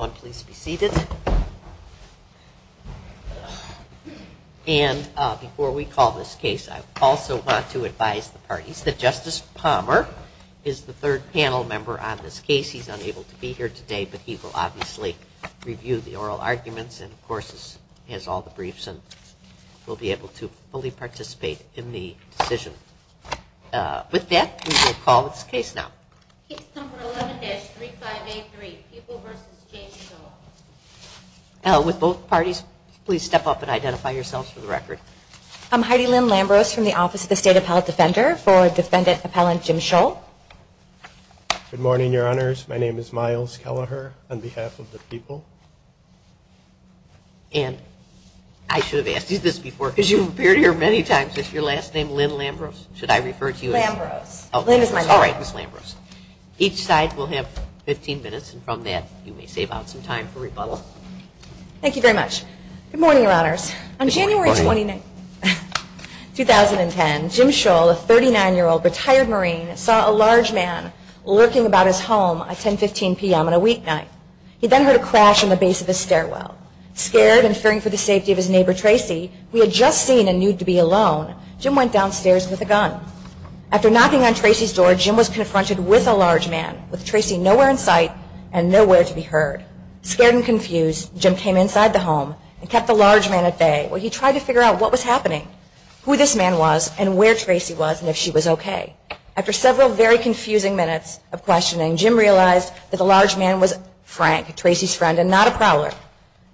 Please be seated. And before we call this case, I also want to advise the parties that Justice Palmer is the third panel member on this case. He's unable to be here today, but he will obviously review the oral arguments and, of course, has all the briefs and will be able to fully participate in the decision. With that, we will call this case now. Case number 11-3583, Pupil v. James Scholl. With both parties, please step up and identify yourselves for the record. I'm Heidi Lynn Lambros from the Office of the State Appellate Defender for Defendant Appellant Jim Scholl. Good morning, Your Honors. My name is Myles Kelleher on behalf of the Pupil. And I should have asked you this before, because you've appeared here many times. Is your last name Lynn Lambros? Should I refer to you as? Lambros. Oh, sorry, Ms. Lambros. Each side will have 15 minutes, and from that, you may save out some time for rebuttal. Thank you very much. Good morning, Your Honors. Good morning. In 2010, Jim Scholl, a 39-year-old retired Marine, saw a large man lurking about his home at 10, 15 p.m. on a weeknight. He then heard a crash on the base of the stairwell. Scared and fearing for the safety of his neighbor, Tracy, who he had just seen and knew to be alone, Jim went downstairs with a gun. After knocking on Tracy's door, Jim was confronted with a large man, with Tracy nowhere in sight and nowhere to be heard. Scared and confused, Jim came inside the home and kept the large man at bay while he tried to figure out what was happening, who this man was, and where Tracy was and if she was okay. After several very confusing minutes of questioning, Jim realized that the large man was Frank, Tracy's friend and not a prowler.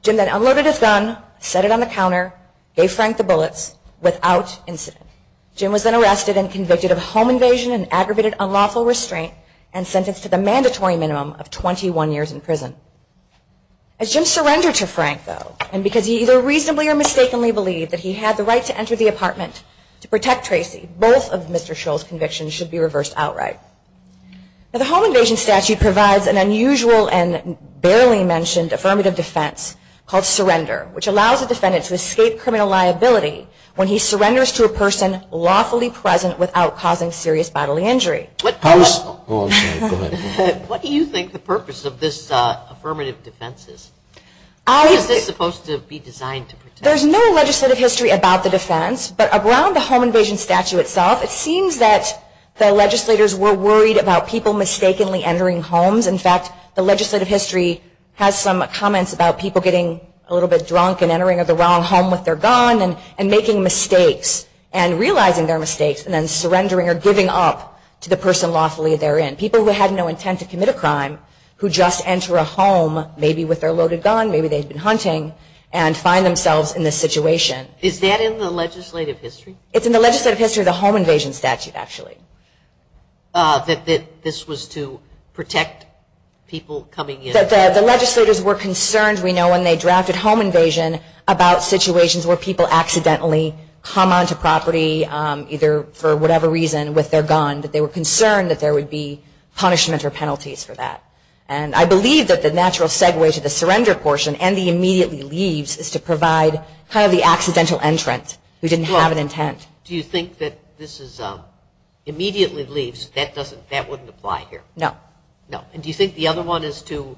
Jim then unloaded his gun, set it on the counter, gave Frank the bullets without incident. Jim was then arrested and convicted of home invasion and aggravated unlawful restraint and sentenced to the mandatory minimum of 21 years in prison. As Jim surrendered to Frank, though, and because he either reasonably or mistakenly believed that he had the right to enter the apartment to protect Tracy, both of Mr. Scholl's convictions should be reversed outright. The home invasion statute provides an unusual and barely mentioned affirmative defense called surrender, which allows a defendant to escape criminal liability when he surrenders to a person lawfully present without causing serious bodily injury. What do you think the purpose of this affirmative defense is? How is this supposed to be designed to protect? There's no legislative history about the defense, but around the home invasion statute itself, it seems that the legislators were worried about people mistakenly entering homes. In fact, the legislative history has some comments about people getting a little bit drunk and entering the wrong home with their gun and making mistakes and realizing their mistakes and then surrendering or giving up to the person lawfully therein. People who had no intent to commit a crime who just enter a home, maybe with their loaded gun, maybe they've been hunting, and find themselves in this situation. Is that in the legislative history? It's in the legislative history of the home invasion statute, actually. That this was to protect people coming in? The legislators were concerned, we know, when they drafted home invasion about situations where people accidentally come onto property, either for whatever reason, with their gun. They were concerned that there would be punishment or penalties for that. And I believe that the natural segue to the surrender portion and the immediately leaves is to provide kind of the accidental entrant who didn't have an intent. Do you think that this immediately leaves, that wouldn't apply here? No. No. And do you think the other one is to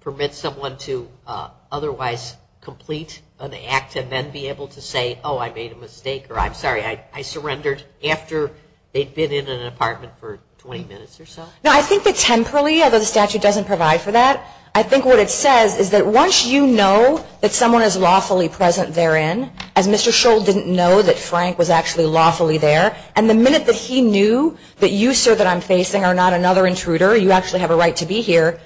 permit someone to otherwise complete an act and then be able to say, oh, I made a mistake, or I'm sorry, I surrendered after they'd been in an apartment for 20 minutes or so? No, I think that temporarily, although the statute doesn't provide for that, I think what it says is that once you know that someone is lawfully present therein, as Mr. Scholl didn't know that Frank was actually lawfully there, and the minute that he knew that you, sir, that I'm facing are not another intruder, you actually have a right to be here,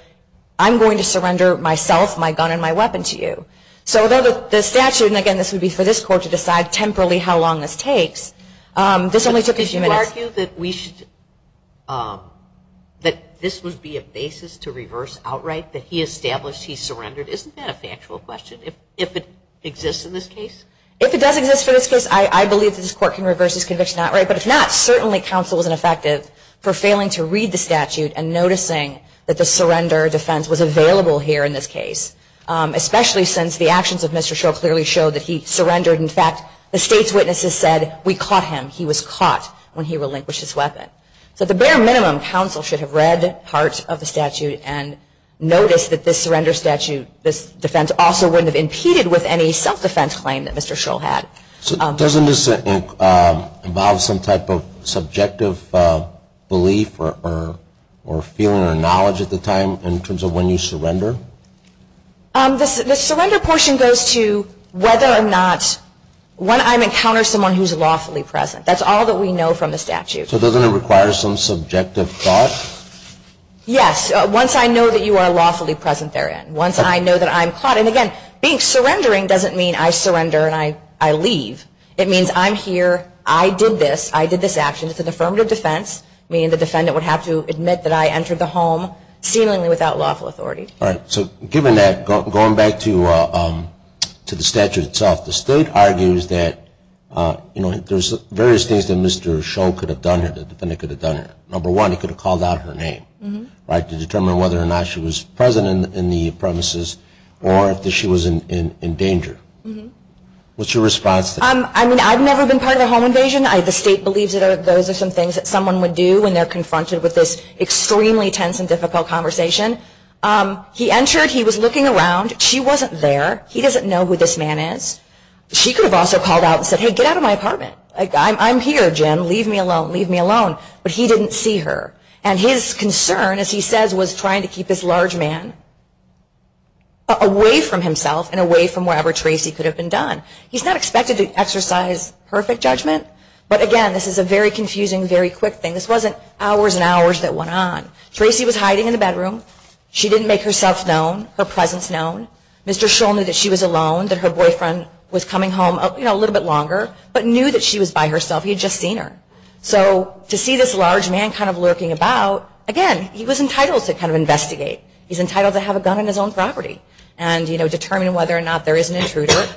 I'm going to surrender myself, my gun, and my weapon to you. So although the statute, and again, this would be for this court to decide temporally how long this takes, this only took a few minutes. Did you argue that we should, that this would be a basis to reverse outright, that he established he surrendered? Isn't that a factual question, if it exists in this case? If it does exist for this case, I believe that this court can reverse this conviction outright. But if not, certainly counsel is ineffective for failing to read the statute and noticing that the surrender defense was available here in this case, especially since the actions of Mr. Scholl clearly showed that he surrendered. In fact, the state's witnesses said, we caught him, he was caught when he relinquished his weapon. So at the bare minimum, counsel should have read parts of the statute and noticed that this surrender statute, this defense also wouldn't have impeded with any self-defense claim that Mr. Scholl had. So doesn't this involve some type of subjective belief or feeling or knowledge at the time in terms of when you surrender? The surrender portion goes to whether or not, when I encounter someone who's lawfully present. That's all that we know from the statute. So doesn't it require some subjective thought? Yes, once I know that you are lawfully present therein, once I know that I'm caught. And again, being surrendering doesn't mean I surrender and I leave. It means I'm here, I did this, I did this action. It's an affirmative defense, meaning the defendant would have to admit that I entered the home seemingly without lawful authority. All right. So given that, going back to the statute itself, the state argues that, you know, there's various things that Mr. Scholl could have done, that the defendant could have done. Number one, he could have called out her name, right, to determine whether or not she was present in the premises or if she was in danger. What's your response to that? I mean, I've never been part of a home invasion. The state believes that those are some things that someone would do when they're confronted with this extremely tense and difficult conversation. He entered, he was looking around. She wasn't there. He doesn't know who this man is. She could have also called out and said, hey, get out of my apartment. I'm here, Jim, leave me alone, leave me alone. But he didn't see her. And his concern, as he says, was trying to keep this large man away from himself and away from wherever Tracy could have been done. He's not expected to exercise perfect judgment, but again, this is a very confusing, very quick thing. This wasn't hours and hours that went on. Tracy was hiding in the bedroom. She didn't make herself known, her presence known. Mr. Scholl knew that she was alone, that her boyfriend was coming home, you know, a little bit longer, but knew that she was by herself. He had just seen her. So to see this large man kind of lurking about, again, he was entitled to kind of investigate. He's entitled to have a gun on his own property and, you know, determine whether or not there is an intruder.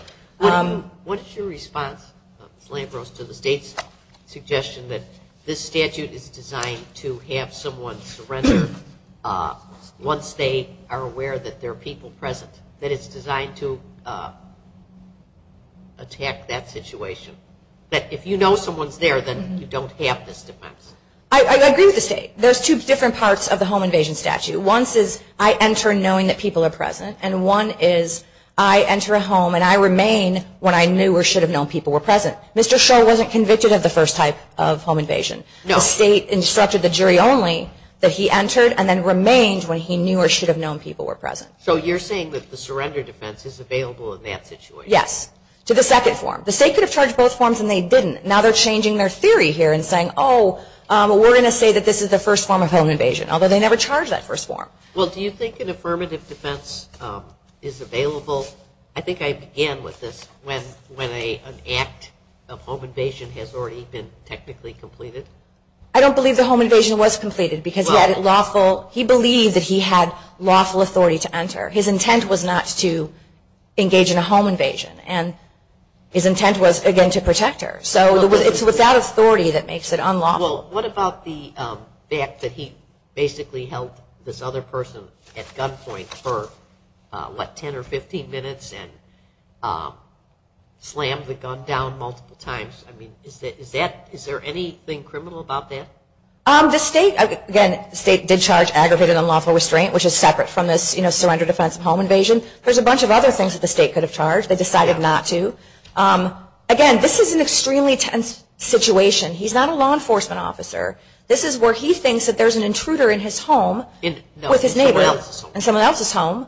What is your response, Ms. Lambros, to the state's suggestion that this statute is designed to have someone surrender once they are aware that there are people present, that it's designed to attack that situation, that if you know someone's there, then you don't have this defense? I agree with the state. There's two different parts of the home invasion statute. One is I enter knowing that people are present, and one is I enter a home and I remain when I knew or should have known people were present. Mr. Scholl wasn't convicted of the first type of home invasion. No. The state instructed the jury only that he entered and then remained when he knew or should have known people were present. So you're saying that the surrender defense is available in that situation? Yes, to the second form. The state could have charged both forms and they didn't. Now they're changing their theory here and saying, oh, we're going to say that this is the first form of home invasion, although they never charged that first form. Well, do you think an affirmative defense is available? I think I began with this when an act of home invasion has already been technically completed. I don't believe the home invasion was completed because he believed that he had lawful authority to enter. His intent was not to engage in a home invasion, and his intent was, again, to protect her. So it's without authority that makes it unlawful. Well, what about the fact that he basically held this other person at gunpoint for, what, 10 or 15 minutes and slammed the gun down multiple times? I mean, is there anything criminal about that? The state, again, the state did charge aggravated unlawful restraint, which is separate from this surrender defense of home invasion. There's a bunch of other things that the state could have charged. They decided not to. Again, this is an extremely tense situation. He's not a law enforcement officer. This is where he thinks that there's an intruder in his home with his neighbor and someone else's home.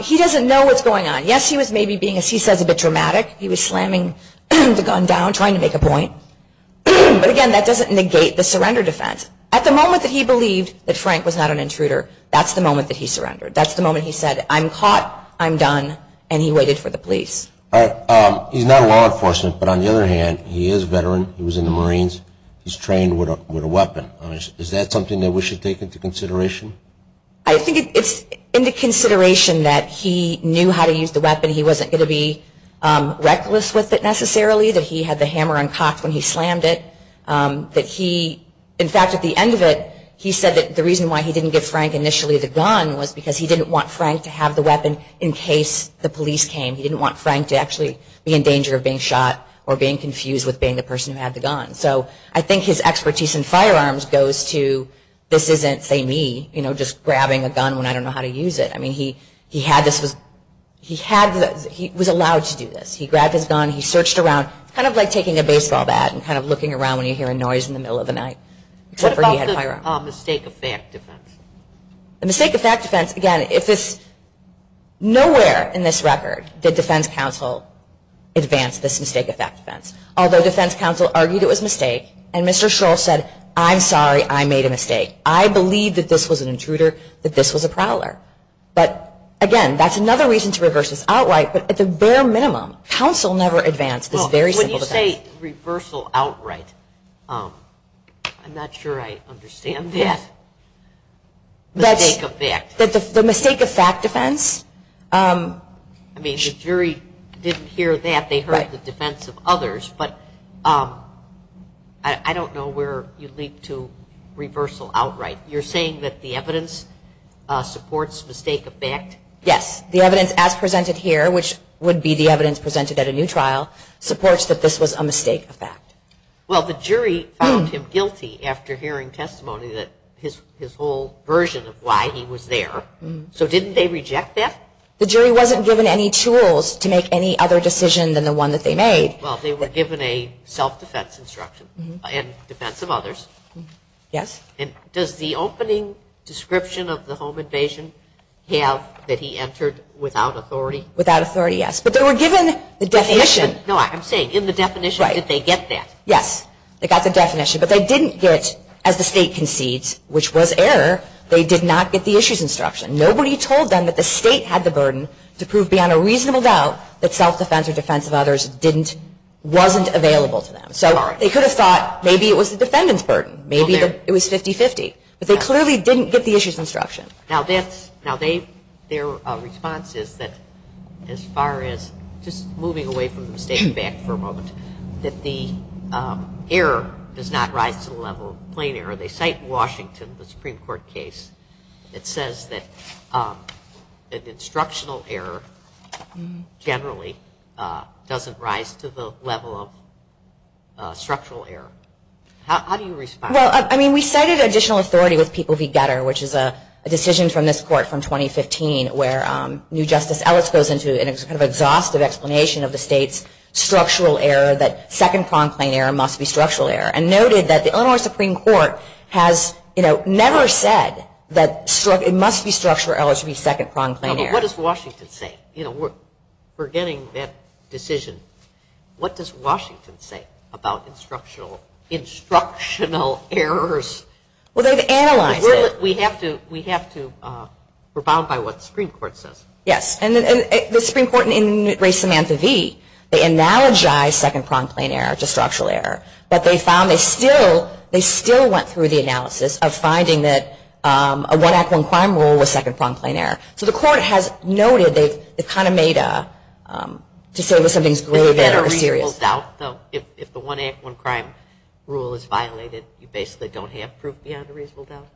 He doesn't know what's going on. Yes, he was maybe being, as he says, a bit dramatic. He was slamming the gun down trying to make a point. But, again, that doesn't negate the surrender defense. At the moment that he believed that Frank was not an intruder, that's the moment that he surrendered. That's the moment he said, I'm caught, I'm done, and he waited for the police. He's not a law enforcement, but on the other hand, he is a veteran. He was in the Marines. He's trained with a weapon. Is that something that we should take into consideration? I think it's into consideration that he knew how to use the weapon. He wasn't going to be reckless with it necessarily, that he had the hammer uncocked when he slammed it. In fact, at the end of it, he said that the reason why he didn't give Frank initially the gun was because he didn't want Frank to have the weapon in case the police came. He didn't want Frank to actually be in danger of being shot or being confused with being the person who had the gun. So I think his expertise in firearms goes to this isn't, say, me, you know, just grabbing a gun when I don't know how to use it. I mean, he was allowed to do this. He grabbed his gun. He searched around. It's kind of like taking a baseball bat and kind of looking around when you hear a noise in the middle of the night. What about the mistake of fact defense? The mistake of fact defense, again, nowhere in this record did defense counsel advance this mistake of fact defense. Although defense counsel argued it was a mistake, and Mr. Shor said, I'm sorry, I made a mistake. I believe that this was an intruder, that this was a prowler. But, again, that's another reason to reverse this outright. But at the bare minimum, counsel never advanced this very simple defense. When you say reversal outright, I'm not sure I understand that. The mistake of fact. The mistake of fact defense? I mean, the jury didn't hear that. They heard the defense of others. But I don't know where you leap to reversal outright. You're saying that the evidence supports mistake of fact? Yes. The evidence as presented here, which would be the evidence presented at a new trial, supports that this was a mistake of fact. Well, the jury found him guilty after hearing testimony that his whole version of why he was there. So didn't they reject that? The jury wasn't given any tools to make any other decision than the one that they made. Well, they were given a self-defense instruction in defense of others. Yes. And does the opening description of the home invasion have that he entered without authority? Without authority, yes. But they were given the definition. No, I'm saying in the definition, did they get that? Yes. They got the definition. But they didn't get, as the State concedes, which was error, they did not get the issues instruction. Nobody told them that the State had the burden to prove beyond a reasonable doubt that self-defense or defense of others wasn't available to them. So they could have thought maybe it was the defendant's burden. Maybe it was 50-50. But they clearly didn't get the issues instruction. Now, their response is that as far as just moving away from the mistake of fact for a moment, that the error does not rise to the level of plain error. They cite Washington, the Supreme Court case. It says that instructional error generally doesn't rise to the level of structural error. How do you respond? Well, I mean, we cited additional authority with people v. Getter, which is a decision from this court from 2015, where new Justice Ellis goes into an exhaustive explanation of the State's structural error, that second-pronged plain error must be structural error, and noted that the Illinois Supreme Court has never said that it must be structural error to be second-pronged plain error. What does Washington say? We're getting that decision. What does Washington say about instructional errors? Well, they've analyzed it. We have to rebound by what the Supreme Court says. Yes. And the Supreme Court in Ray Samantha V, they analogized second-pronged plain error to structural error. But they found they still went through the analysis of finding that a one-act-one-crime rule was second-pronged plain error. So the court has noted they've kind of made a, to say that something's grave error or serious. Is there a reasonable doubt, though, if the one-act-one-crime rule is violated, you basically don't have proof beyond a reasonable doubt?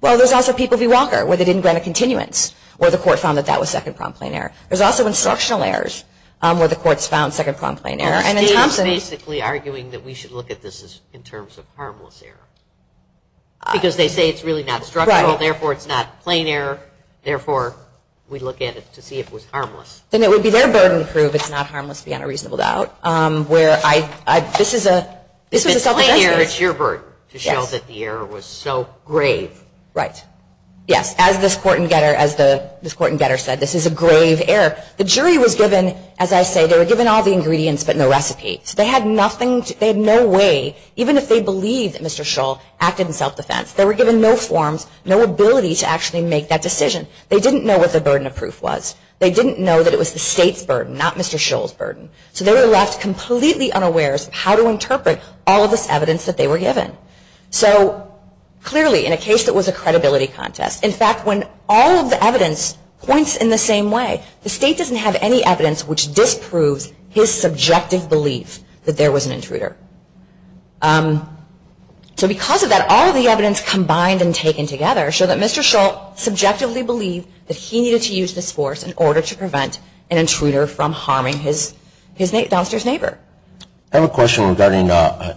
Well, there's also people v. Walker, where they didn't grant a continuance, where the court found that that was second-pronged plain error. There's also instructional errors, where the court's found second-pronged plain error. Well, the State is basically arguing that we should look at this in terms of harmless error. Because they say it's really not structural, therefore it's not plain error, therefore we look at it to see if it was harmless. Then it would be their burden to prove it's not harmless beyond a reasonable doubt, where this is a self-defense. If it's plain error, it's your burden to show that the error was so grave. Right. Yes. As this court in Getter said, this is a grave error. The jury was given, as I say, they were given all the ingredients but no recipe. So they had nothing, they had no way, even if they believed that Mr. Shull acted in self-defense, they were given no forms, no ability to actually make that decision. They didn't know what the burden of proof was. They didn't know that it was the State's burden, not Mr. Shull's burden. So they were left completely unaware as to how to interpret all of this evidence that they were given. So clearly, in a case that was a credibility contest, in fact, when all of the evidence points in the same way, the State doesn't have any evidence which disproves his subjective belief that there was an intruder. So because of that, all of the evidence combined and taken together show that Mr. Shull subjectively believed that he needed to use this force in order to prevent an intruder from harming his downstairs neighbor. I have a question regarding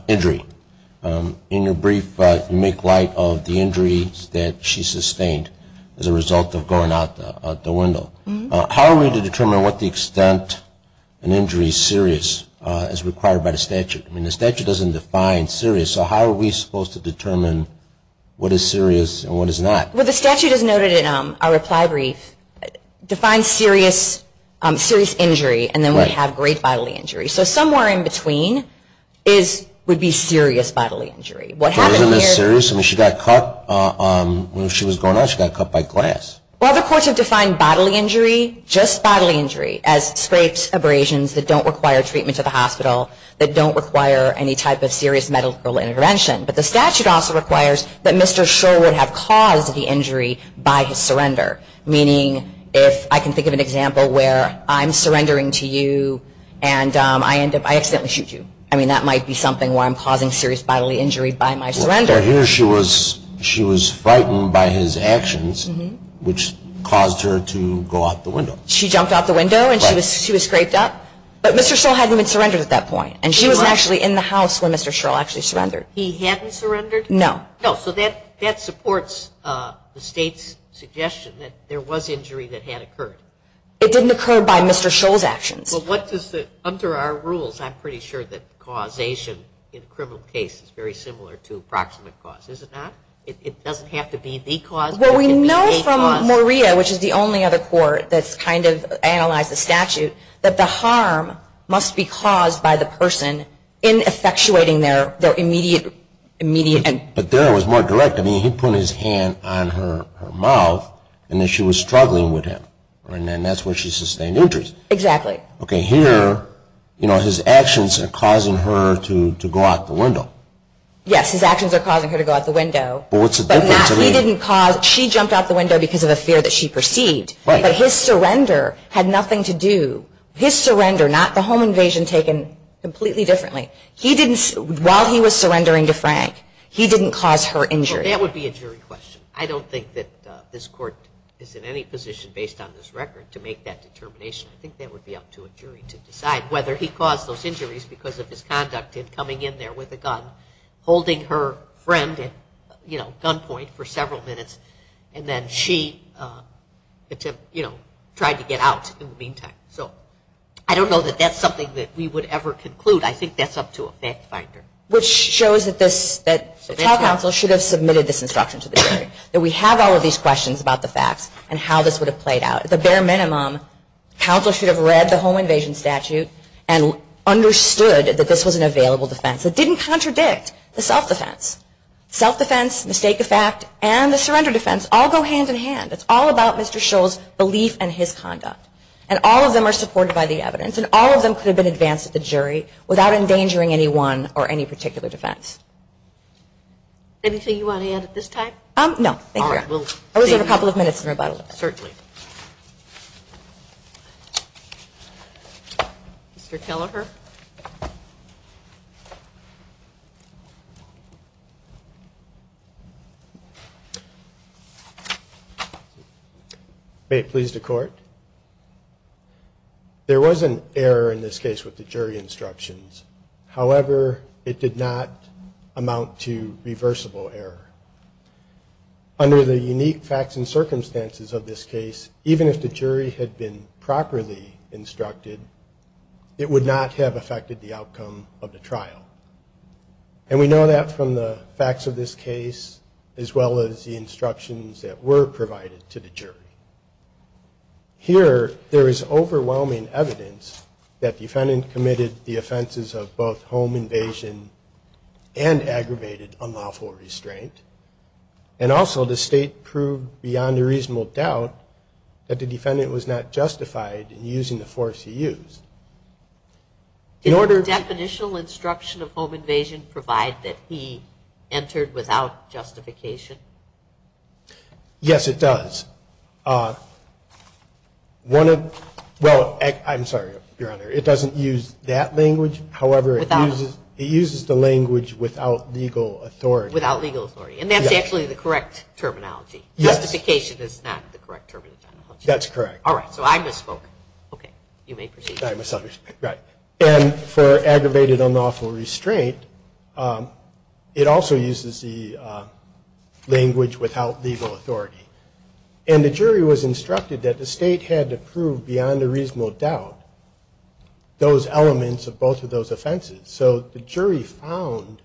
injury. In your brief, you make light of the injuries that she sustained as a result of going out the window. How are we to determine what the extent an injury is serious as required by the statute? I mean, the statute doesn't define serious. So how are we supposed to determine what is serious and what is not? Well, the statute, as noted in our reply brief, defines serious injury, and then we have great bodily injury. So somewhere in between would be serious bodily injury. So isn't this serious? I mean, she got cut when she was going out. She got cut by glass. Well, the courts have defined bodily injury, just bodily injury, as scrapes, abrasions that don't require treatment at the hospital, that don't require any type of serious medical intervention. But the statute also requires that Mr. Shull would have caused the injury by his surrender, meaning if I can think of an example where I'm surrendering to you and I accidentally shoot you. I mean, that might be something where I'm causing serious bodily injury by my surrender. Well, here she was frightened by his actions, which caused her to go out the window. She jumped out the window and she was scraped up. But Mr. Shull hadn't been surrendered at that point, and she was actually in the house when Mr. Shull actually surrendered. He hadn't surrendered? No. No. So that supports the State's suggestion that there was injury that had occurred. It didn't occur by Mr. Shull's actions. Well, what does the – under our rules, I'm pretty sure that causation in a criminal case is very similar to approximate cause. It doesn't have to be the cause, but it can be a cause. Well, we know from Maria, which is the only other court that's kind of analyzed the statute, that the harm must be caused by the person in effectuating their immediate – But there it was more direct. I mean, he put his hand on her mouth, and then she was struggling with him. And then that's where she sustained injuries. Exactly. Okay, here, you know, his actions are causing her to go out the window. Yes, his actions are causing her to go out the window. But what's the difference? He didn't cause – she jumped out the window because of a fear that she perceived. Right. But his surrender had nothing to do – his surrender, not the home invasion taken completely differently. He didn't – while he was surrendering to Frank, he didn't cause her injury. Well, that would be a jury question. I don't think that this court is in any position, based on this record, to make that determination. I think that would be up to a jury to decide whether he caused those injuries because of his conduct in coming in there with a gun, holding her friend at gunpoint for several minutes, and then she tried to get out in the meantime. So I don't know that that's something that we would ever conclude. I think that's up to a fact finder. Which shows that this – that trial counsel should have submitted this instruction to the jury, that we have all of these questions about the facts and how this would have played out. At the bare minimum, counsel should have read the home invasion statute and understood that this was an available defense. It didn't contradict the self-defense. Self-defense, mistake of fact, and the surrender defense all go hand-in-hand. It's all about Mr. Shull's belief and his conduct. And all of them are supported by the evidence, and all of them could have been advanced at the jury without endangering anyone or any particular defense. No, thank you. I reserve a couple of minutes in rebuttal. Certainly. Mr. Kelleher. May it please the Court. There was an error in this case with the jury instructions. However, it did not amount to reversible error. Under the unique facts and circumstances of this case, even if the jury had been properly instructed, it would not have affected the outcome of the trial. And we know that from the facts of this case, as well as the instructions that were provided to the jury. Here, there is overwhelming evidence that the defendant committed the offenses of both home invasion and aggravated unlawful restraint. And also, the state proved beyond a reasonable doubt that the defendant was not justified in using the force he used. Did the definitional instruction of home invasion provide that he entered without justification? Yes, it does. It doesn't use that language. However, it uses the language without legal authority. Without legal authority. And that's actually the correct terminology. Yes. Justification is not the correct terminology. That's correct. All right. So I misspoke. Okay. You may proceed. I misunderstood. Right. And for aggravated unlawful restraint, it also uses the language without legal authority. And the jury was instructed that the state had to prove beyond a reasonable doubt those elements of both of those offenses. So the jury found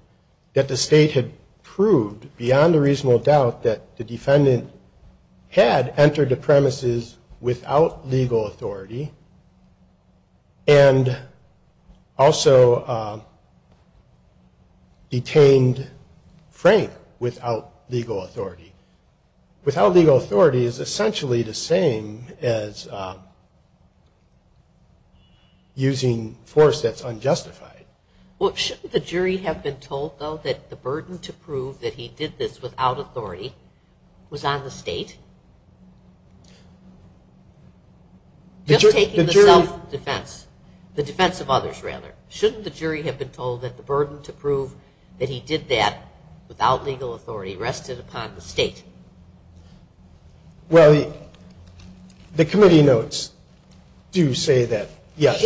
that the state had proved beyond a reasonable doubt that the defendant had entered the premises without legal authority and also detained Frank without legal authority. Without legal authority is essentially the same as using force that's unjustified. Well, shouldn't the jury have been told, though, that the burden to prove that he did this without authority was on the state? Just taking the self-defense. The defense of others, rather. Shouldn't the jury have been told that the burden to prove that he did that without legal authority rested upon the state? Well, the committee notes do say that, yes,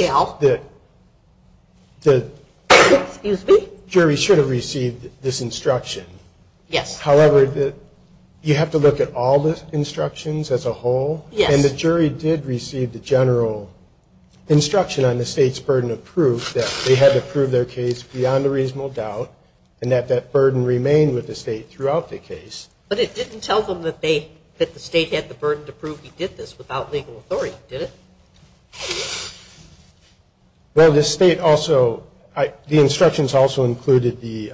the jury should have received this instruction. Yes. However, you have to look at all the instructions as a whole. Yes. And the jury did receive the general instruction on the state's burden of proof that they had to prove their case beyond a reasonable doubt and that that burden remained with the state throughout the case. But it didn't tell them that they, that the state had the burden to prove he did this without legal authority, did it? Well, the state also, the instructions also included the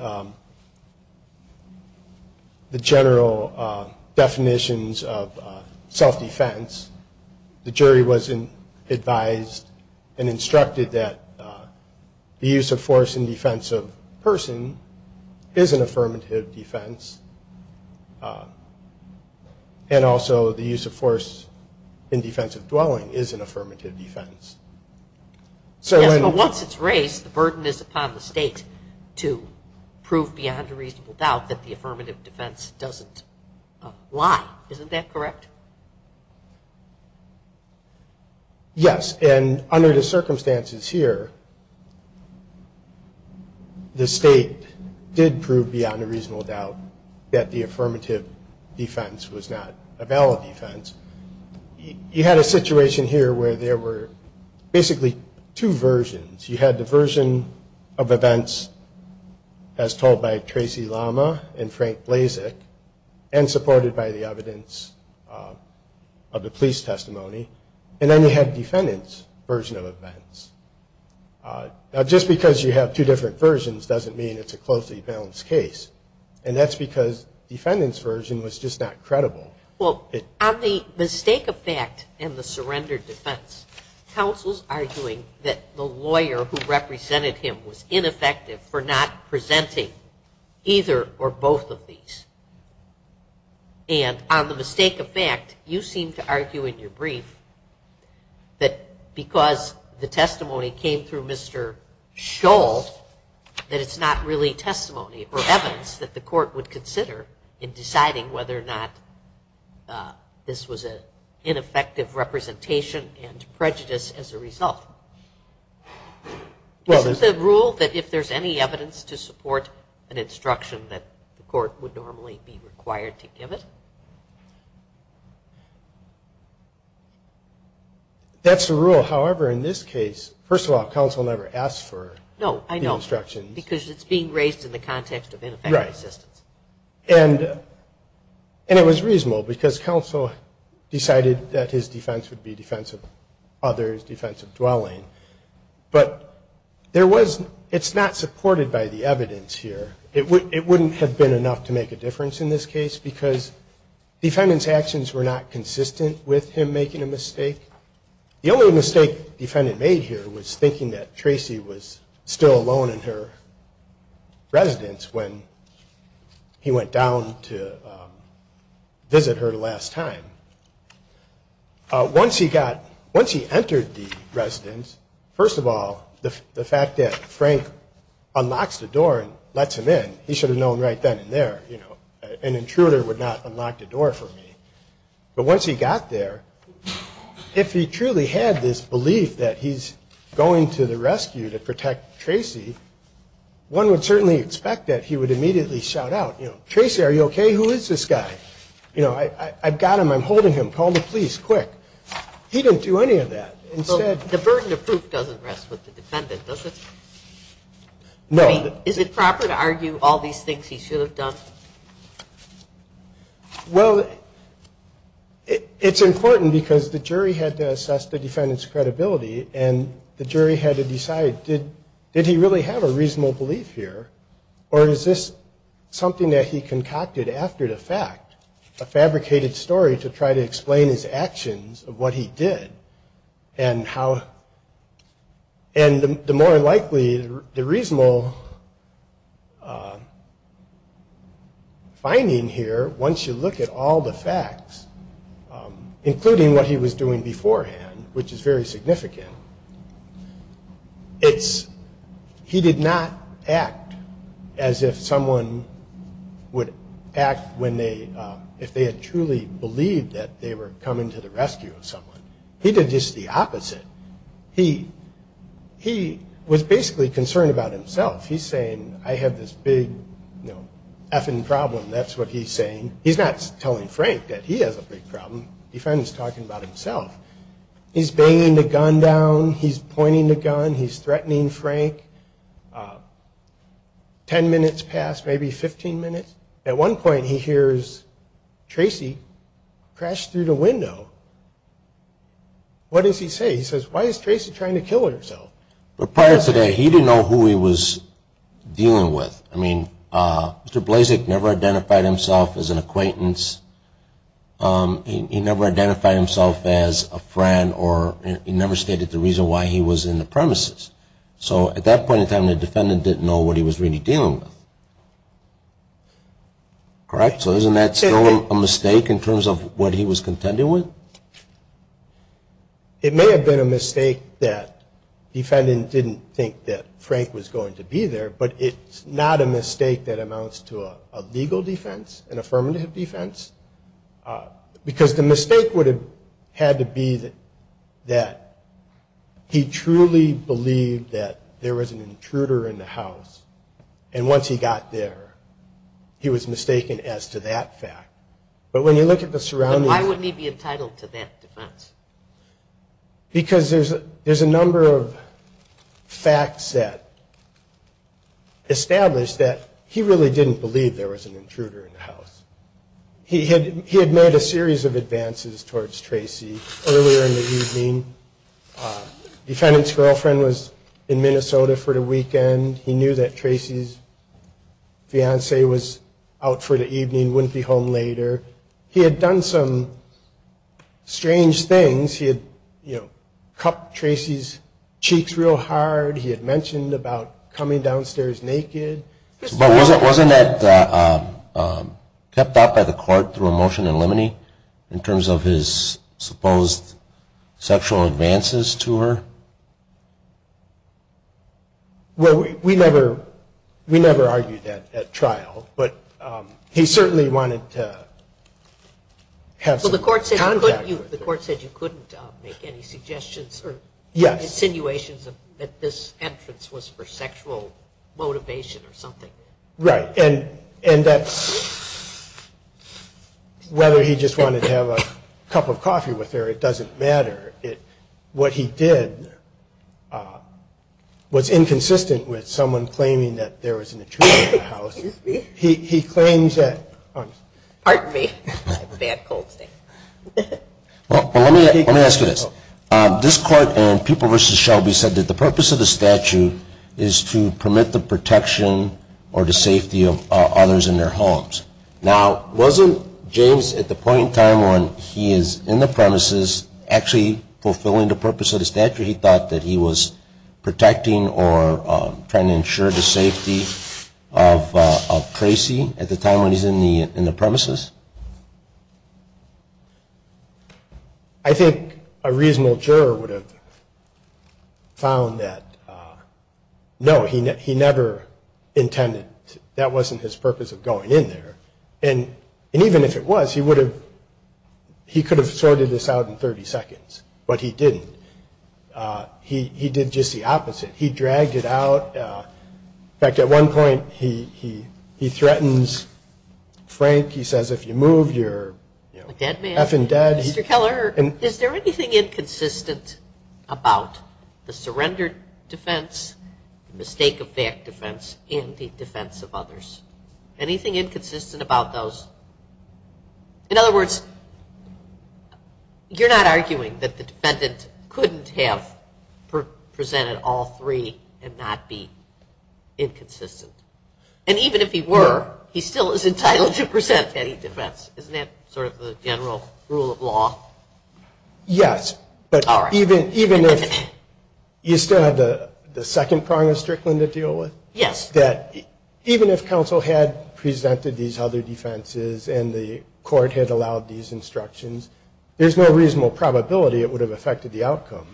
general definitions of self-defense. The jury was advised and instructed that the use of force in defense of a person is an affirmative defense, and also the use of force in defense of dwelling is an affirmative defense. Yes, but once it's raised, the burden is upon the state to prove beyond a reasonable doubt that the affirmative defense doesn't lie. Isn't that correct? Yes, and under the circumstances here, the state did prove beyond a reasonable doubt that the affirmative defense was not a valid defense. You had a situation here where there were basically two versions. You had the version of events as told by Tracy Lama and Frank Blazek and supported by the evidence of the police testimony, and then you had defendant's version of events. Now, just because you have two different versions doesn't mean it's a closely balanced case, and that's because defendant's version was just not credible. Well, on the mistake of fact and the surrender defense, counsel's arguing that the lawyer who represented him was ineffective for not presenting either or both of these. And on the mistake of fact, you seem to argue in your brief that because the testimony came through Mr. Scholl that it's not really testimony or evidence that the court would consider in deciding whether or not this was an ineffective representation and prejudice as a result. Isn't the rule that if there's any evidence to support an instruction that the court would normally be required to give it? That's the rule. However, in this case, first of all, counsel never asked for the instructions. No, I know, because it's being raised in the context of ineffective assistance. Right. And it was reasonable because counsel decided that his defense would be defense of others, defense of dwelling. But it's not supported by the evidence here. It wouldn't have been enough to make a difference in this case because defendant's actions were not consistent with him making a mistake. The only mistake defendant made here was thinking that Tracy was still alone in her residence when he went down to visit her the last time. Once he got, once he entered the residence, first of all, the fact that Frank unlocks the door and lets him in, he should have known right then and there, you know, an intruder would not unlock the door for me. But once he got there, if he truly had this belief that he's going to the rescue to protect Tracy, one would certainly expect that he would immediately shout out, you know, Tracy, are you okay? Who is this guy? You know, I've got him. I'm holding him. Call the police, quick. He didn't do any of that. The burden of proof doesn't rest with the defendant, does it? No. Is it proper to argue all these things he should have done? Well, it's important because the jury had to assess the defendant's credibility and the jury had to decide, did he really have a reasonable belief here or is this something that he concocted after the fact, a fabricated story to try to explain his actions of what he did and how, and the more likely, the reasonable finding here, once you look at all the facts, including what he was doing beforehand, which is very significant, it's, he did not act as if someone would act when they, if they had truly believed that they were coming to the rescue of someone. He did just the opposite. He, he was basically concerned about himself. He's saying, I have this big, you know, effing problem. That's what he's saying. He's not telling Frank that he has a big problem. The defendant's talking about himself. He's banging the gun down. He's pointing the gun. He's threatening Frank. Ten minutes passed, maybe 15 minutes. At one point, he hears Tracy crash through the window. What does he say? He says, why is Tracy trying to kill herself? But prior to that, he didn't know who he was dealing with. I mean, Mr. Blazek never identified himself as an acquaintance. He never identified himself as a friend or he never stated the reason why he was in the premises. So at that point in time, the defendant didn't know what he was really dealing with. Correct? So isn't that still a mistake in terms of what he was contending with? It may have been a mistake that the defendant didn't think that Frank was going to be there, but it's not a mistake that amounts to a legal defense, an affirmative defense, because the mistake would have had to be that he truly believed that there was an intruder in the house, and once he got there, he was mistaken as to that fact. But when you look at the surroundings. But why wouldn't he be entitled to that defense? Because there's a number of facts that establish that he really didn't believe there was an intruder in the house. He had made a series of advances towards Tracy earlier in the evening. The defendant's girlfriend was in Minnesota for the weekend. He knew that Tracy's fiancee was out for the evening, wouldn't be home later. He had done some strange things. He had cupped Tracy's cheeks real hard. He had mentioned about coming downstairs naked. But wasn't that kept out by the court through a motion in limine in terms of his supposed sexual advances to her? Well, we never argued that at trial, but he certainly wanted to have some contact with her. Well, the court said you couldn't make any suggestions or insinuations that this entrance was for sexual motivation or something. Right. And that's whether he just wanted to have a cup of coffee with her, it doesn't matter. What he did was inconsistent with someone claiming that there was an intruder in the house. He claims that. Pardon me. I have a bad cold today. Well, let me ask you this. This court in People v. Shelby said that the purpose of the statute is to permit the protection or the safety of others in their homes. Now, wasn't James at the point in time when he is in the premises actually fulfilling the purpose of the statute, he thought that he was protecting or trying to ensure the safety of Tracy at the time when he's in the premises? I think a reasonable juror would have found that, no, he never intended, that wasn't his purpose of going in there. And even if it was, he would have, he could have sorted this out in 30 seconds, but he didn't. He did just the opposite. He dragged it out. In fact, at one point he threatens Frank. He says, if you move, you're F-ing dead. Mr. Keller, is there anything inconsistent about the surrender defense, the mistake of fact defense, and the defense of others? Anything inconsistent about those? In other words, you're not arguing that the defendant couldn't have presented all three and not be inconsistent. And even if he were, he still is entitled to present any defense. Isn't that sort of the general rule of law? Yes, but even if you still have the second prong of Strickland to deal with, that even if counsel had presented these other defenses and the court had allowed these instructions, there's no reasonable probability it would have affected the outcome.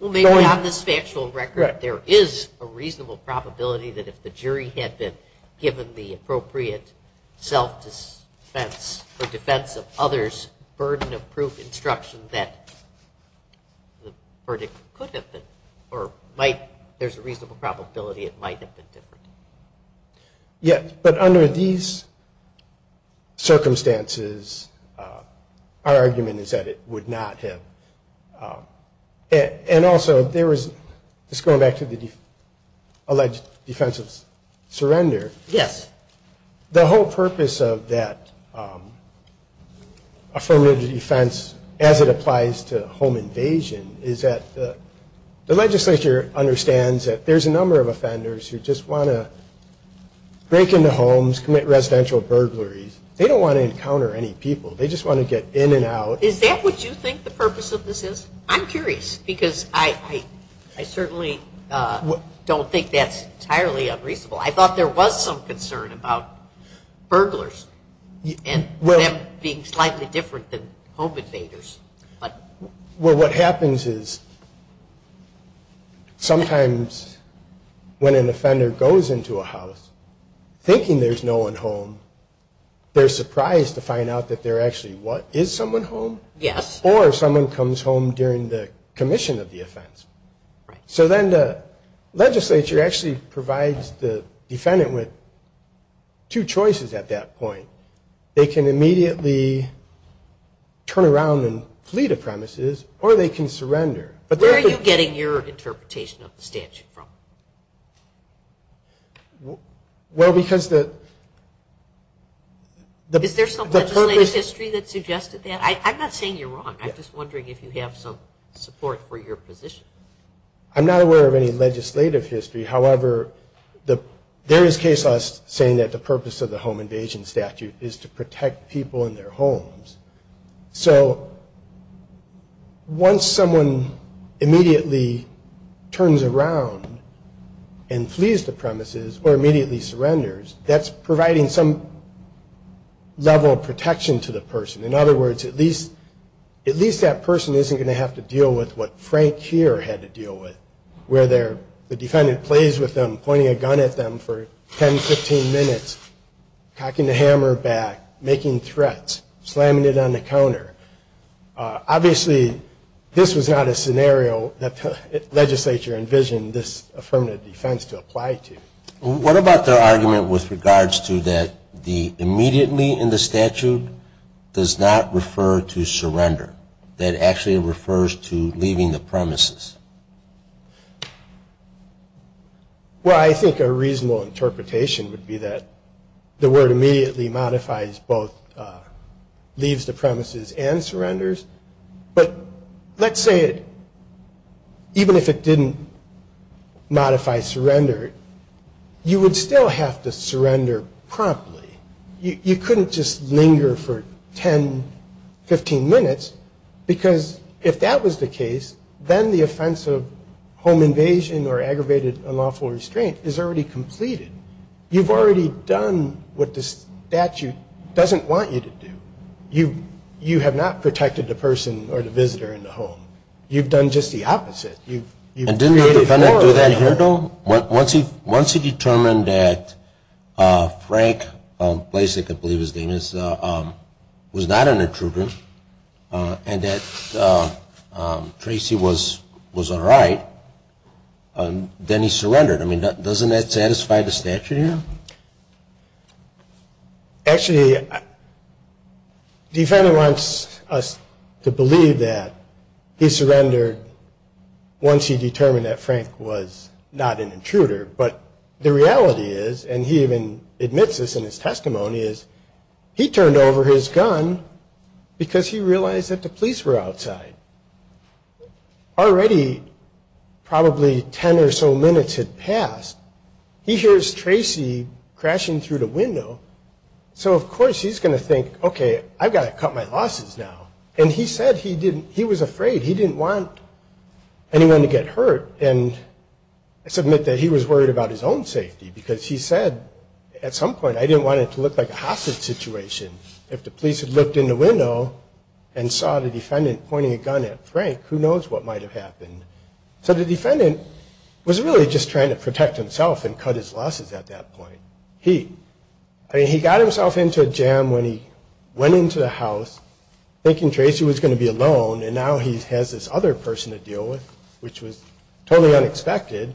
Well, maybe on this factual record there is a reasonable probability that if the jury had been given the appropriate self-defense or defense of others burden of proof instruction that the verdict could have been, or there's a reasonable probability it might have been different. Yes, but under these circumstances, our argument is that it would not have. And also, there was, just going back to the alleged defense of surrender. Yes. The whole purpose of that affirmative defense, as it applies to home invasion, is that the legislature understands that there's a number of offenders who just want to break into homes, commit residential burglaries. They don't want to encounter any people. They just want to get in and out. Is that what you think the purpose of this is? I'm curious because I certainly don't think that's entirely unreasonable. I thought there was some concern about burglars and them being slightly different than home invaders. Well, what happens is sometimes when an offender goes into a house thinking there's no one home, they're surprised to find out that there actually is someone home. Yes. Or someone comes home during the commission of the offense. So then the legislature actually provides the defendant with two choices at that point. They can immediately turn around and flee the premises, or they can surrender. Where are you getting your interpretation of the statute from? Well, because the purpose of the statute. Is there some legislative history that suggested that? I'm not saying you're wrong. I'm just wondering if you have some support for your position. I'm not aware of any legislative history. However, there is case law saying that the purpose of the home invasion statute is to protect people in their homes. So once someone immediately turns around and flees the premises or immediately surrenders, that's providing some level of protection to the person. In other words, at least that person isn't going to have to deal with what Frank here had to deal with, where the defendant plays with them, pointing a gun at them for 10, 15 minutes, cocking the hammer back, making threats, slamming it on the counter. Obviously, this was not a scenario that the legislature envisioned this affirmative defense to apply to. What about their argument with regards to that the immediately in the statute does not refer to surrender? That actually refers to leaving the premises. Well, I think a reasonable interpretation would be that the word immediately modifies both leaves the premises and surrenders, but let's say even if it didn't modify surrender, you would still have to surrender promptly. You couldn't just linger for 10, 15 minutes because if that was the case, then the offense of home invasion or aggravated unlawful restraint is already completed. You've already done what the statute doesn't want you to do. You have not protected the person or the visitor in the home. You've done just the opposite. And didn't the defendant do that here, though? Once he determined that Frank Blasick, I believe his name is, was not an intruder and that Tracy was all right, then he surrendered. I mean, doesn't that satisfy the statute here? Actually, the defendant wants us to believe that he surrendered once he determined that Frank was not an intruder. But the reality is, and he even admits this in his testimony, is he turned over his gun because he realized that the police were outside. Already probably 10 or so minutes had passed. He hears Tracy crashing through the window. So, of course, he's going to think, okay, I've got to cut my losses now. And he said he was afraid. He didn't want anyone to get hurt. And I submit that he was worried about his own safety because he said at some point, I didn't want it to look like a hostage situation. If the police had looked in the window and saw the defendant pointing a gun at Frank, who knows what might have happened. So the defendant was really just trying to protect himself and cut his losses at that point. I mean, he got himself into a jam when he went into the house thinking Tracy was going to be alone and now he has this other person to deal with, which was totally unexpected.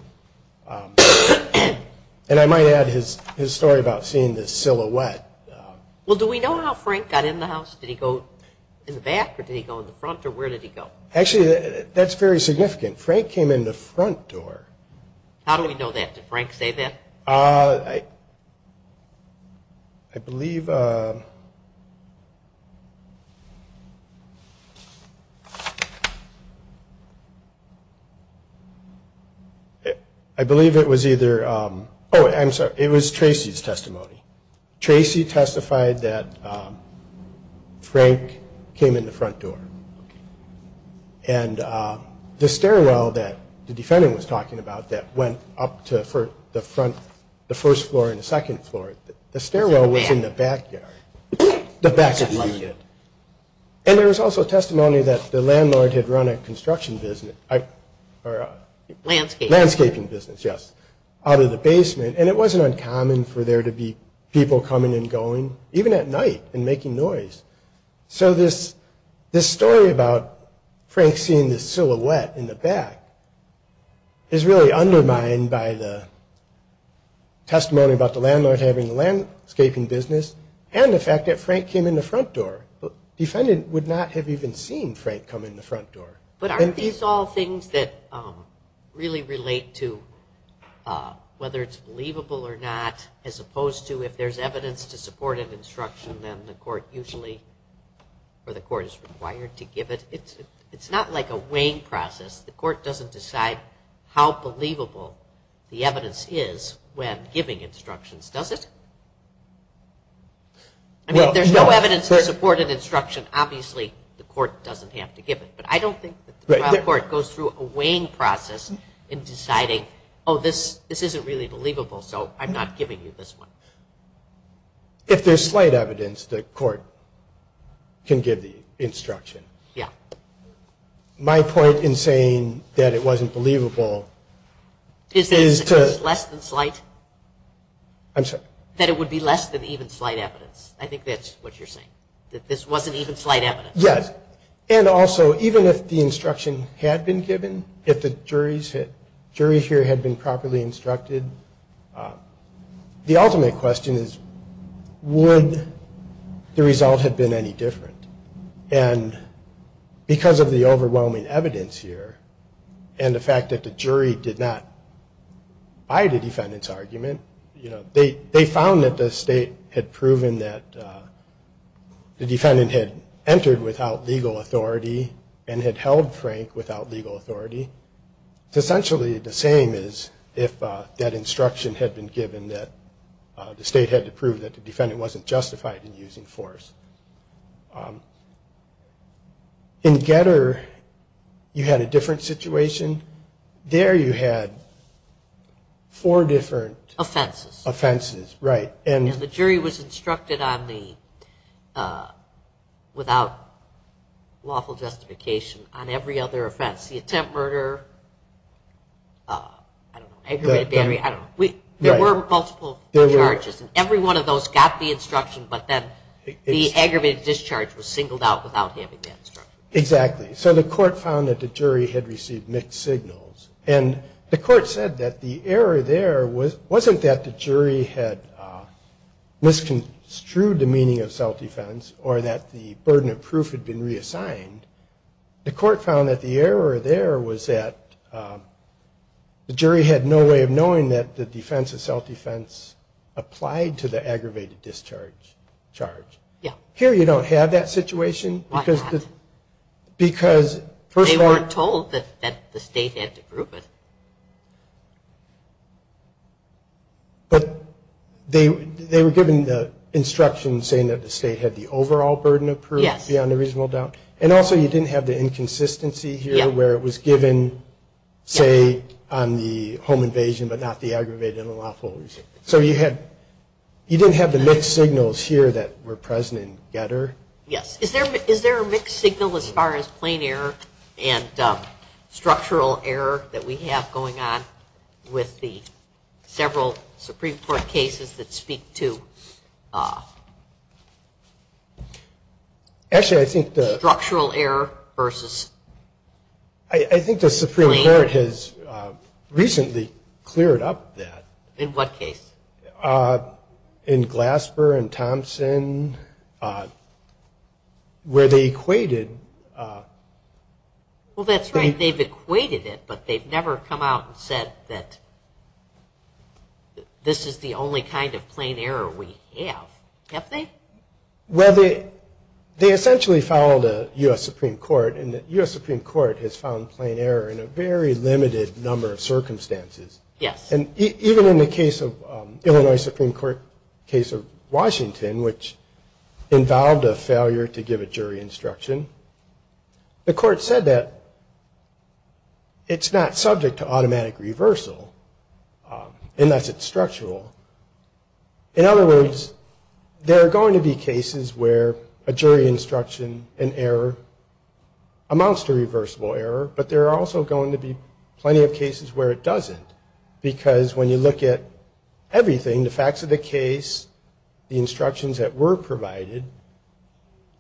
And I might add his story about seeing this silhouette. Well, do we know how Frank got in the house? Did he go in the back or did he go in the front or where did he go? Actually, that's very significant. Frank came in the front door. How do we know that? Did Frank say that? I believe it was either – oh, I'm sorry. It was Tracy's testimony. Tracy testified that Frank came in the front door. And the stairwell that the defendant was talking about that went up to the front, the first floor and the second floor, the stairwell was in the backyard. And there was also testimony that the landlord had run a construction business. Landscaping. And it wasn't uncommon for there to be people coming and going, even at night and making noise. So this story about Frank seeing this silhouette in the back is really undermined by the testimony about the landlord having a landscaping business and the fact that Frank came in the front door. The defendant would not have even seen Frank come in the front door. But aren't these all things that really relate to whether it's believable or not, as opposed to if there's evidence to support an instruction, then the court usually – or the court is required to give it? It's not like a weighing process. The court doesn't decide how believable the evidence is when giving instructions, does it? I mean, if there's no evidence to support an instruction, obviously the court doesn't have to give it. But I don't think that the trial court goes through a weighing process in deciding, oh, this isn't really believable, so I'm not giving you this one. If there's slight evidence, the court can give the instruction. Yeah. My point in saying that it wasn't believable is to – Is it less than slight? I'm sorry. That it would be less than even slight evidence. I think that's what you're saying, that this wasn't even slight evidence. Yes. And also, even if the instruction had been given, if the jury here had been properly instructed, the ultimate question is, would the result have been any different? And because of the overwhelming evidence here and the fact that the jury did not buy the defendant's argument, they found that the state had proven that the defendant had entered without legal authority and had held Frank without legal authority. It's essentially the same as if that instruction had been given that the state had to prove that the defendant wasn't justified in using force. In Getter, you had a different situation. There you had four different offenses. And the jury was instructed on the – without lawful justification – on every other offense. The attempt murder, I don't know, aggravated battery, I don't know. There were multiple charges, and every one of those got the instruction, but then the aggravated discharge was singled out without having that instruction. Exactly. So the court found that the jury had received mixed signals, and the court said that the error there wasn't that the jury had misconstrued the meaning of self-defense or that the burden of proof had been reassigned. The court found that the error there was that the jury had no way of knowing that the defense of self-defense applied to the aggravated discharge charge. Here you don't have that situation because – They weren't told that the state had to prove it. But they were given the instruction saying that the state had the overall burden of proof, beyond a reasonable doubt. And also you didn't have the inconsistency here where it was given, say, on the home invasion, but not the aggravated and lawful. So you didn't have the mixed signals here that were present in Getter? Yes. Is there a mixed signal as far as plain error and structural error that we have going on with the several Supreme Court cases that speak to structural error versus plain error? I think the Supreme Court has recently cleared up that. In what case? In Glasper and Thompson, where they equated – Well, that's right. They've equated it, but they've never come out and said that this is the only kind of plain error we have. Have they? Well, they essentially followed a U.S. Supreme Court, and the U.S. Supreme Court has found plain error in a very limited number of circumstances. Yes. And even in the case of – Illinois Supreme Court case of Washington, which involved a failure to give a jury instruction, the court said that it's not subject to automatic reversal, and that's it's structural. In other words, there are going to be cases where a jury instruction and error amounts to reversible error, but there are also going to be plenty of cases where it doesn't, because when you look at everything, the facts of the case, the instructions that were provided,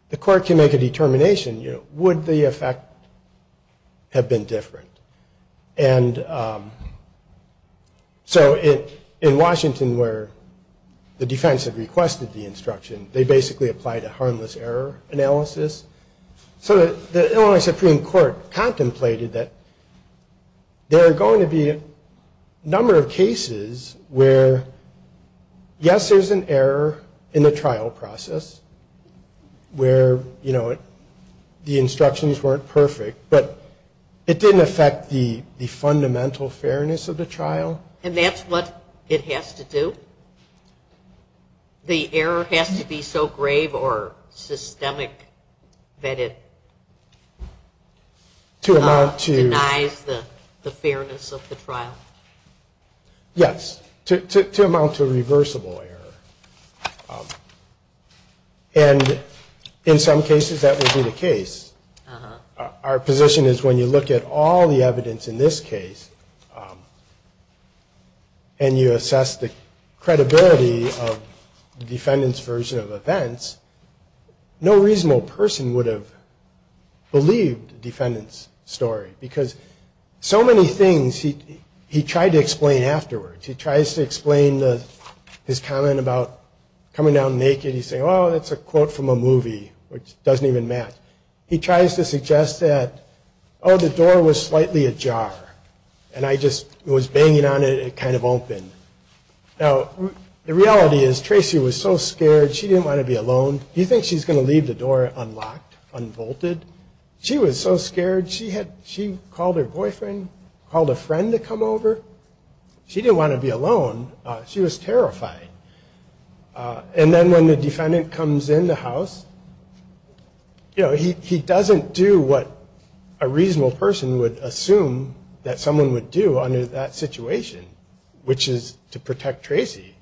the court can make a determination, you know, would the effect have been different? And so in Washington, where the defense had requested the instruction, they basically applied a harmless error analysis. So the Illinois Supreme Court contemplated that there are going to be a number of cases where, yes, there's an error in the trial process where, you know, the instructions weren't perfect, but it didn't affect the fundamental fairness of the trial. And that's what it has to do. The error has to be so grave or systemic that it denies the fairness of the trial? Yes, to amount to reversible error. And in some cases that will be the case. Our position is when you look at all the evidence in this case and you assess the credibility of the defendant's version of events, no reasonable person would have believed the defendant's story, because so many things he tried to explain afterwards. He tries to explain his comment about coming down naked. He's saying, oh, that's a quote from a movie, which doesn't even match. He tries to suggest that, oh, the door was slightly ajar, and I just was banging on it, it kind of opened. Now, the reality is Tracy was so scared. She didn't want to be alone. Do you think she's going to leave the door unlocked, unbolted? She was so scared. She called her boyfriend, called a friend to come over. She didn't want to be alone. She was terrified. And then when the defendant comes in the house, you know, he doesn't do what a reasonable person would assume that someone would do under that situation, which is to protect Tracy.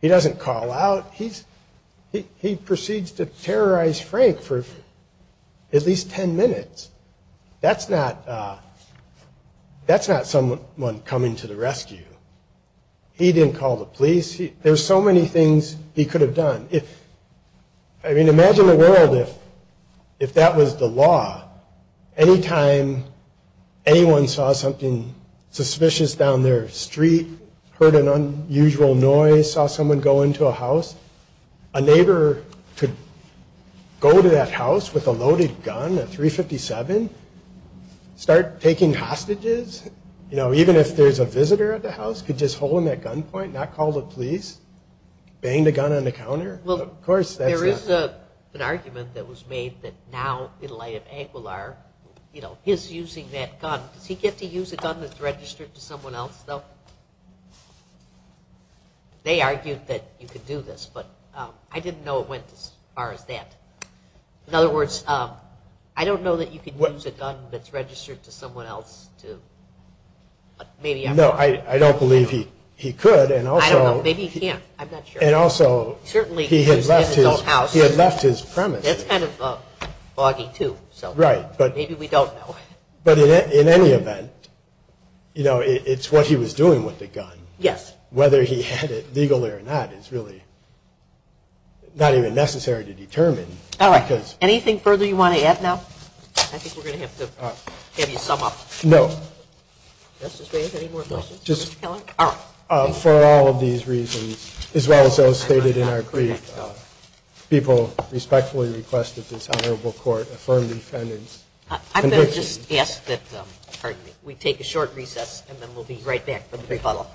He doesn't call out. He proceeds to terrorize Frank for at least ten minutes. That's not someone coming to the rescue. He didn't call the police. There's so many things he could have done. I mean, imagine a world if that was the law. Anytime anyone saw something suspicious down their street, heard an unusual noise, saw someone go into a house, a neighbor could go to that house with a loaded gun, a .357, start taking hostages, you know, even if there's a visitor at the house, could just hold him at gunpoint, not call the police, bang the gun on the counter. Well, there is an argument that was made that now in light of Aguilar, you know, his using that gun, does he get to use a gun that's registered to someone else, though? They argued that you could do this, but I didn't know it went as far as that. In other words, I don't know that you could use a gun that's registered to someone else. No, I don't believe he could. I don't know. Maybe he can't. I'm not sure. And also, he had left his premise. That's kind of foggy, too. Right. Maybe we don't know. But in any event, you know, it's what he was doing with the gun. Yes. Whether he had it legally or not is really not even necessary to determine. All right. Anything further you want to add now? I think we're going to have to have you sum up. No. Justice Raven, any more questions? No. All right. For all of these reasons, as well as those stated in our brief, people respectfully request that this honorable court affirm the defendant's conviction. I'm going to just ask that we take a short recess, and then we'll be right back with the brief follow-up.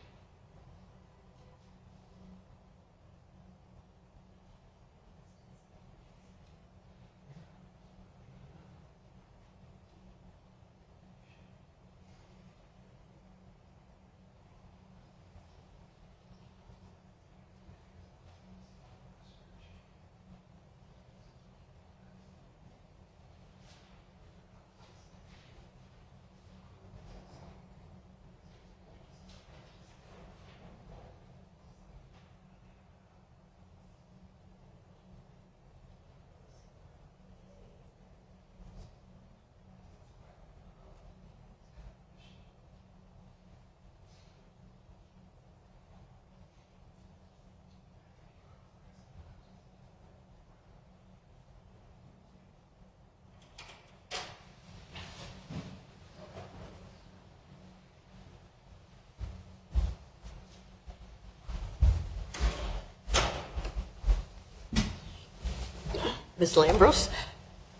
Thank you. Thank you. Thank you. Thank you.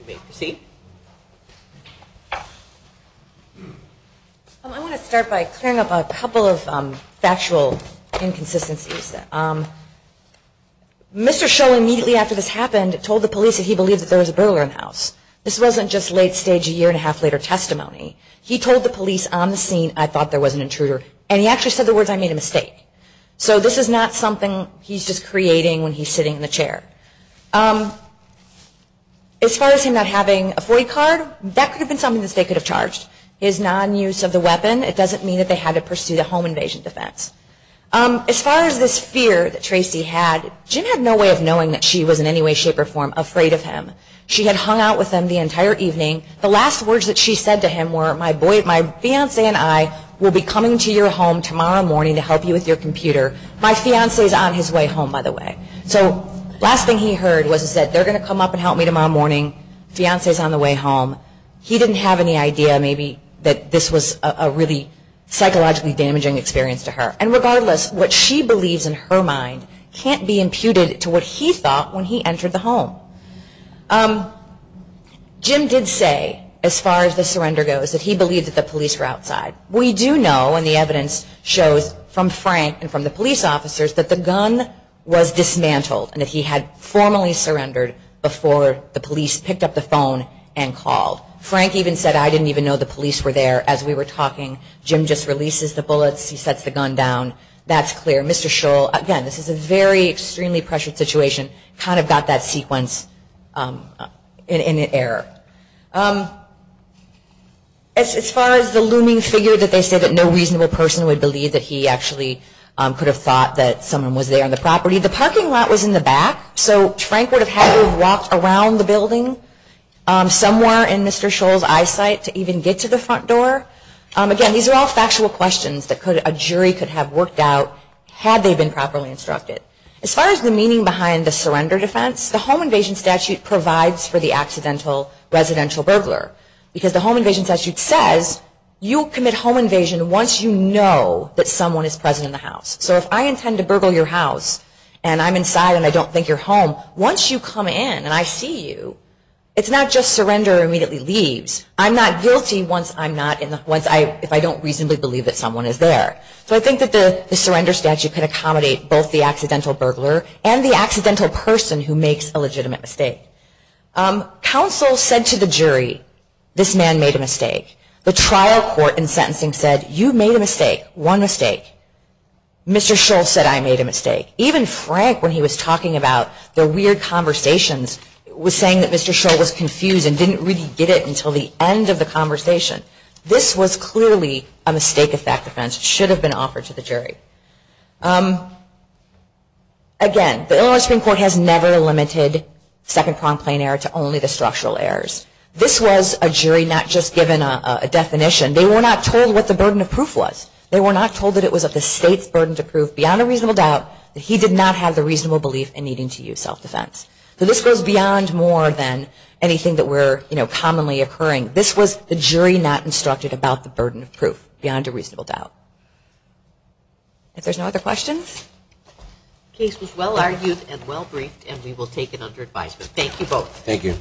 You may proceed. I want to start by clearing up a couple of factual inconsistencies. Mr. Scholl, immediately after this happened, told the police that he believed that there was a burglar in the house. This wasn't just late stage, a year and a half later testimony. He told the police on the scene, I thought there was an intruder. And he actually said the words, I made a mistake. So this is not something he's just creating when he's sitting in the chair. As far as him not having a void card, that could have been something that they could have charged. His non-use of the weapon, it doesn't mean that they had to pursue the home invasion defense. As far as this fear that Tracy had, Jim had no way of knowing that she was in any way, shape, or form afraid of him. She had hung out with him the entire evening. The last words that she said to him were, my fiance and I will be coming to your home tomorrow morning to help you with your computer. My fiance is on his way home, by the way. So last thing he heard was that they're going to come up and help me tomorrow morning. Fiance is on the way home. He didn't have any idea maybe that this was a really psychologically damaging experience to her. And regardless, what she believes in her mind can't be imputed to what he thought when he entered the home. Jim did say, as far as the surrender goes, that he believed that the police were outside. We do know, and the evidence shows from Frank and from the police officers, that the gun was dismantled, and that he had formally surrendered before the police picked up the phone and called. Frank even said, I didn't even know the police were there as we were talking. Jim just releases the bullets. He sets the gun down. That's clear. Mr. Sherrill, again, this is a very extremely pressured situation. Kind of got that sequence in error. As far as the looming figure that they say that no reasonable person would believe that he actually could have thought that someone was there on the property, the parking lot was in the back. So Frank would have had to have walked around the building somewhere in Mr. Sherrill's eyesight to even get to the front door. Again, these are all factual questions that a jury could have worked out had they been properly instructed. As far as the meaning behind the surrender defense, the home invasion statute provides for the accidental residential burglar. Because the home invasion statute says, you commit home invasion once you know that someone is present in the house. So if I intend to burgle your house and I'm inside and I don't think you're home, once you come in and I see you, it's not just surrender immediately leaves. I'm not guilty if I don't reasonably believe that someone is there. So I think that the surrender statute could accommodate both the accidental burglar and the accidental person who makes a legitimate mistake. Counsel said to the jury, this man made a mistake. The trial court in sentencing said, you made a mistake. One mistake. Mr. Sherrill said, I made a mistake. Even Frank, when he was talking about the weird conversations, was saying that Mr. Sherrill was confused and didn't really get it until the end of the conversation. This was clearly a mistake of fact defense. It should have been offered to the jury. Again, the Illinois Supreme Court has never limited second-pronged plain error to only the structural errors. This was a jury not just given a definition. They were not told what the burden of proof was. They were not told that it was of the state's burden to prove beyond a reasonable doubt that he did not have the reasonable belief in needing to use self-defense. So this goes beyond more than anything that were commonly occurring. This was the jury not instructed about the burden of proof beyond a reasonable doubt. If there's no other questions. Case was well-argued and well-briefed, and we will take it under advisement. Thank you both. Thank you.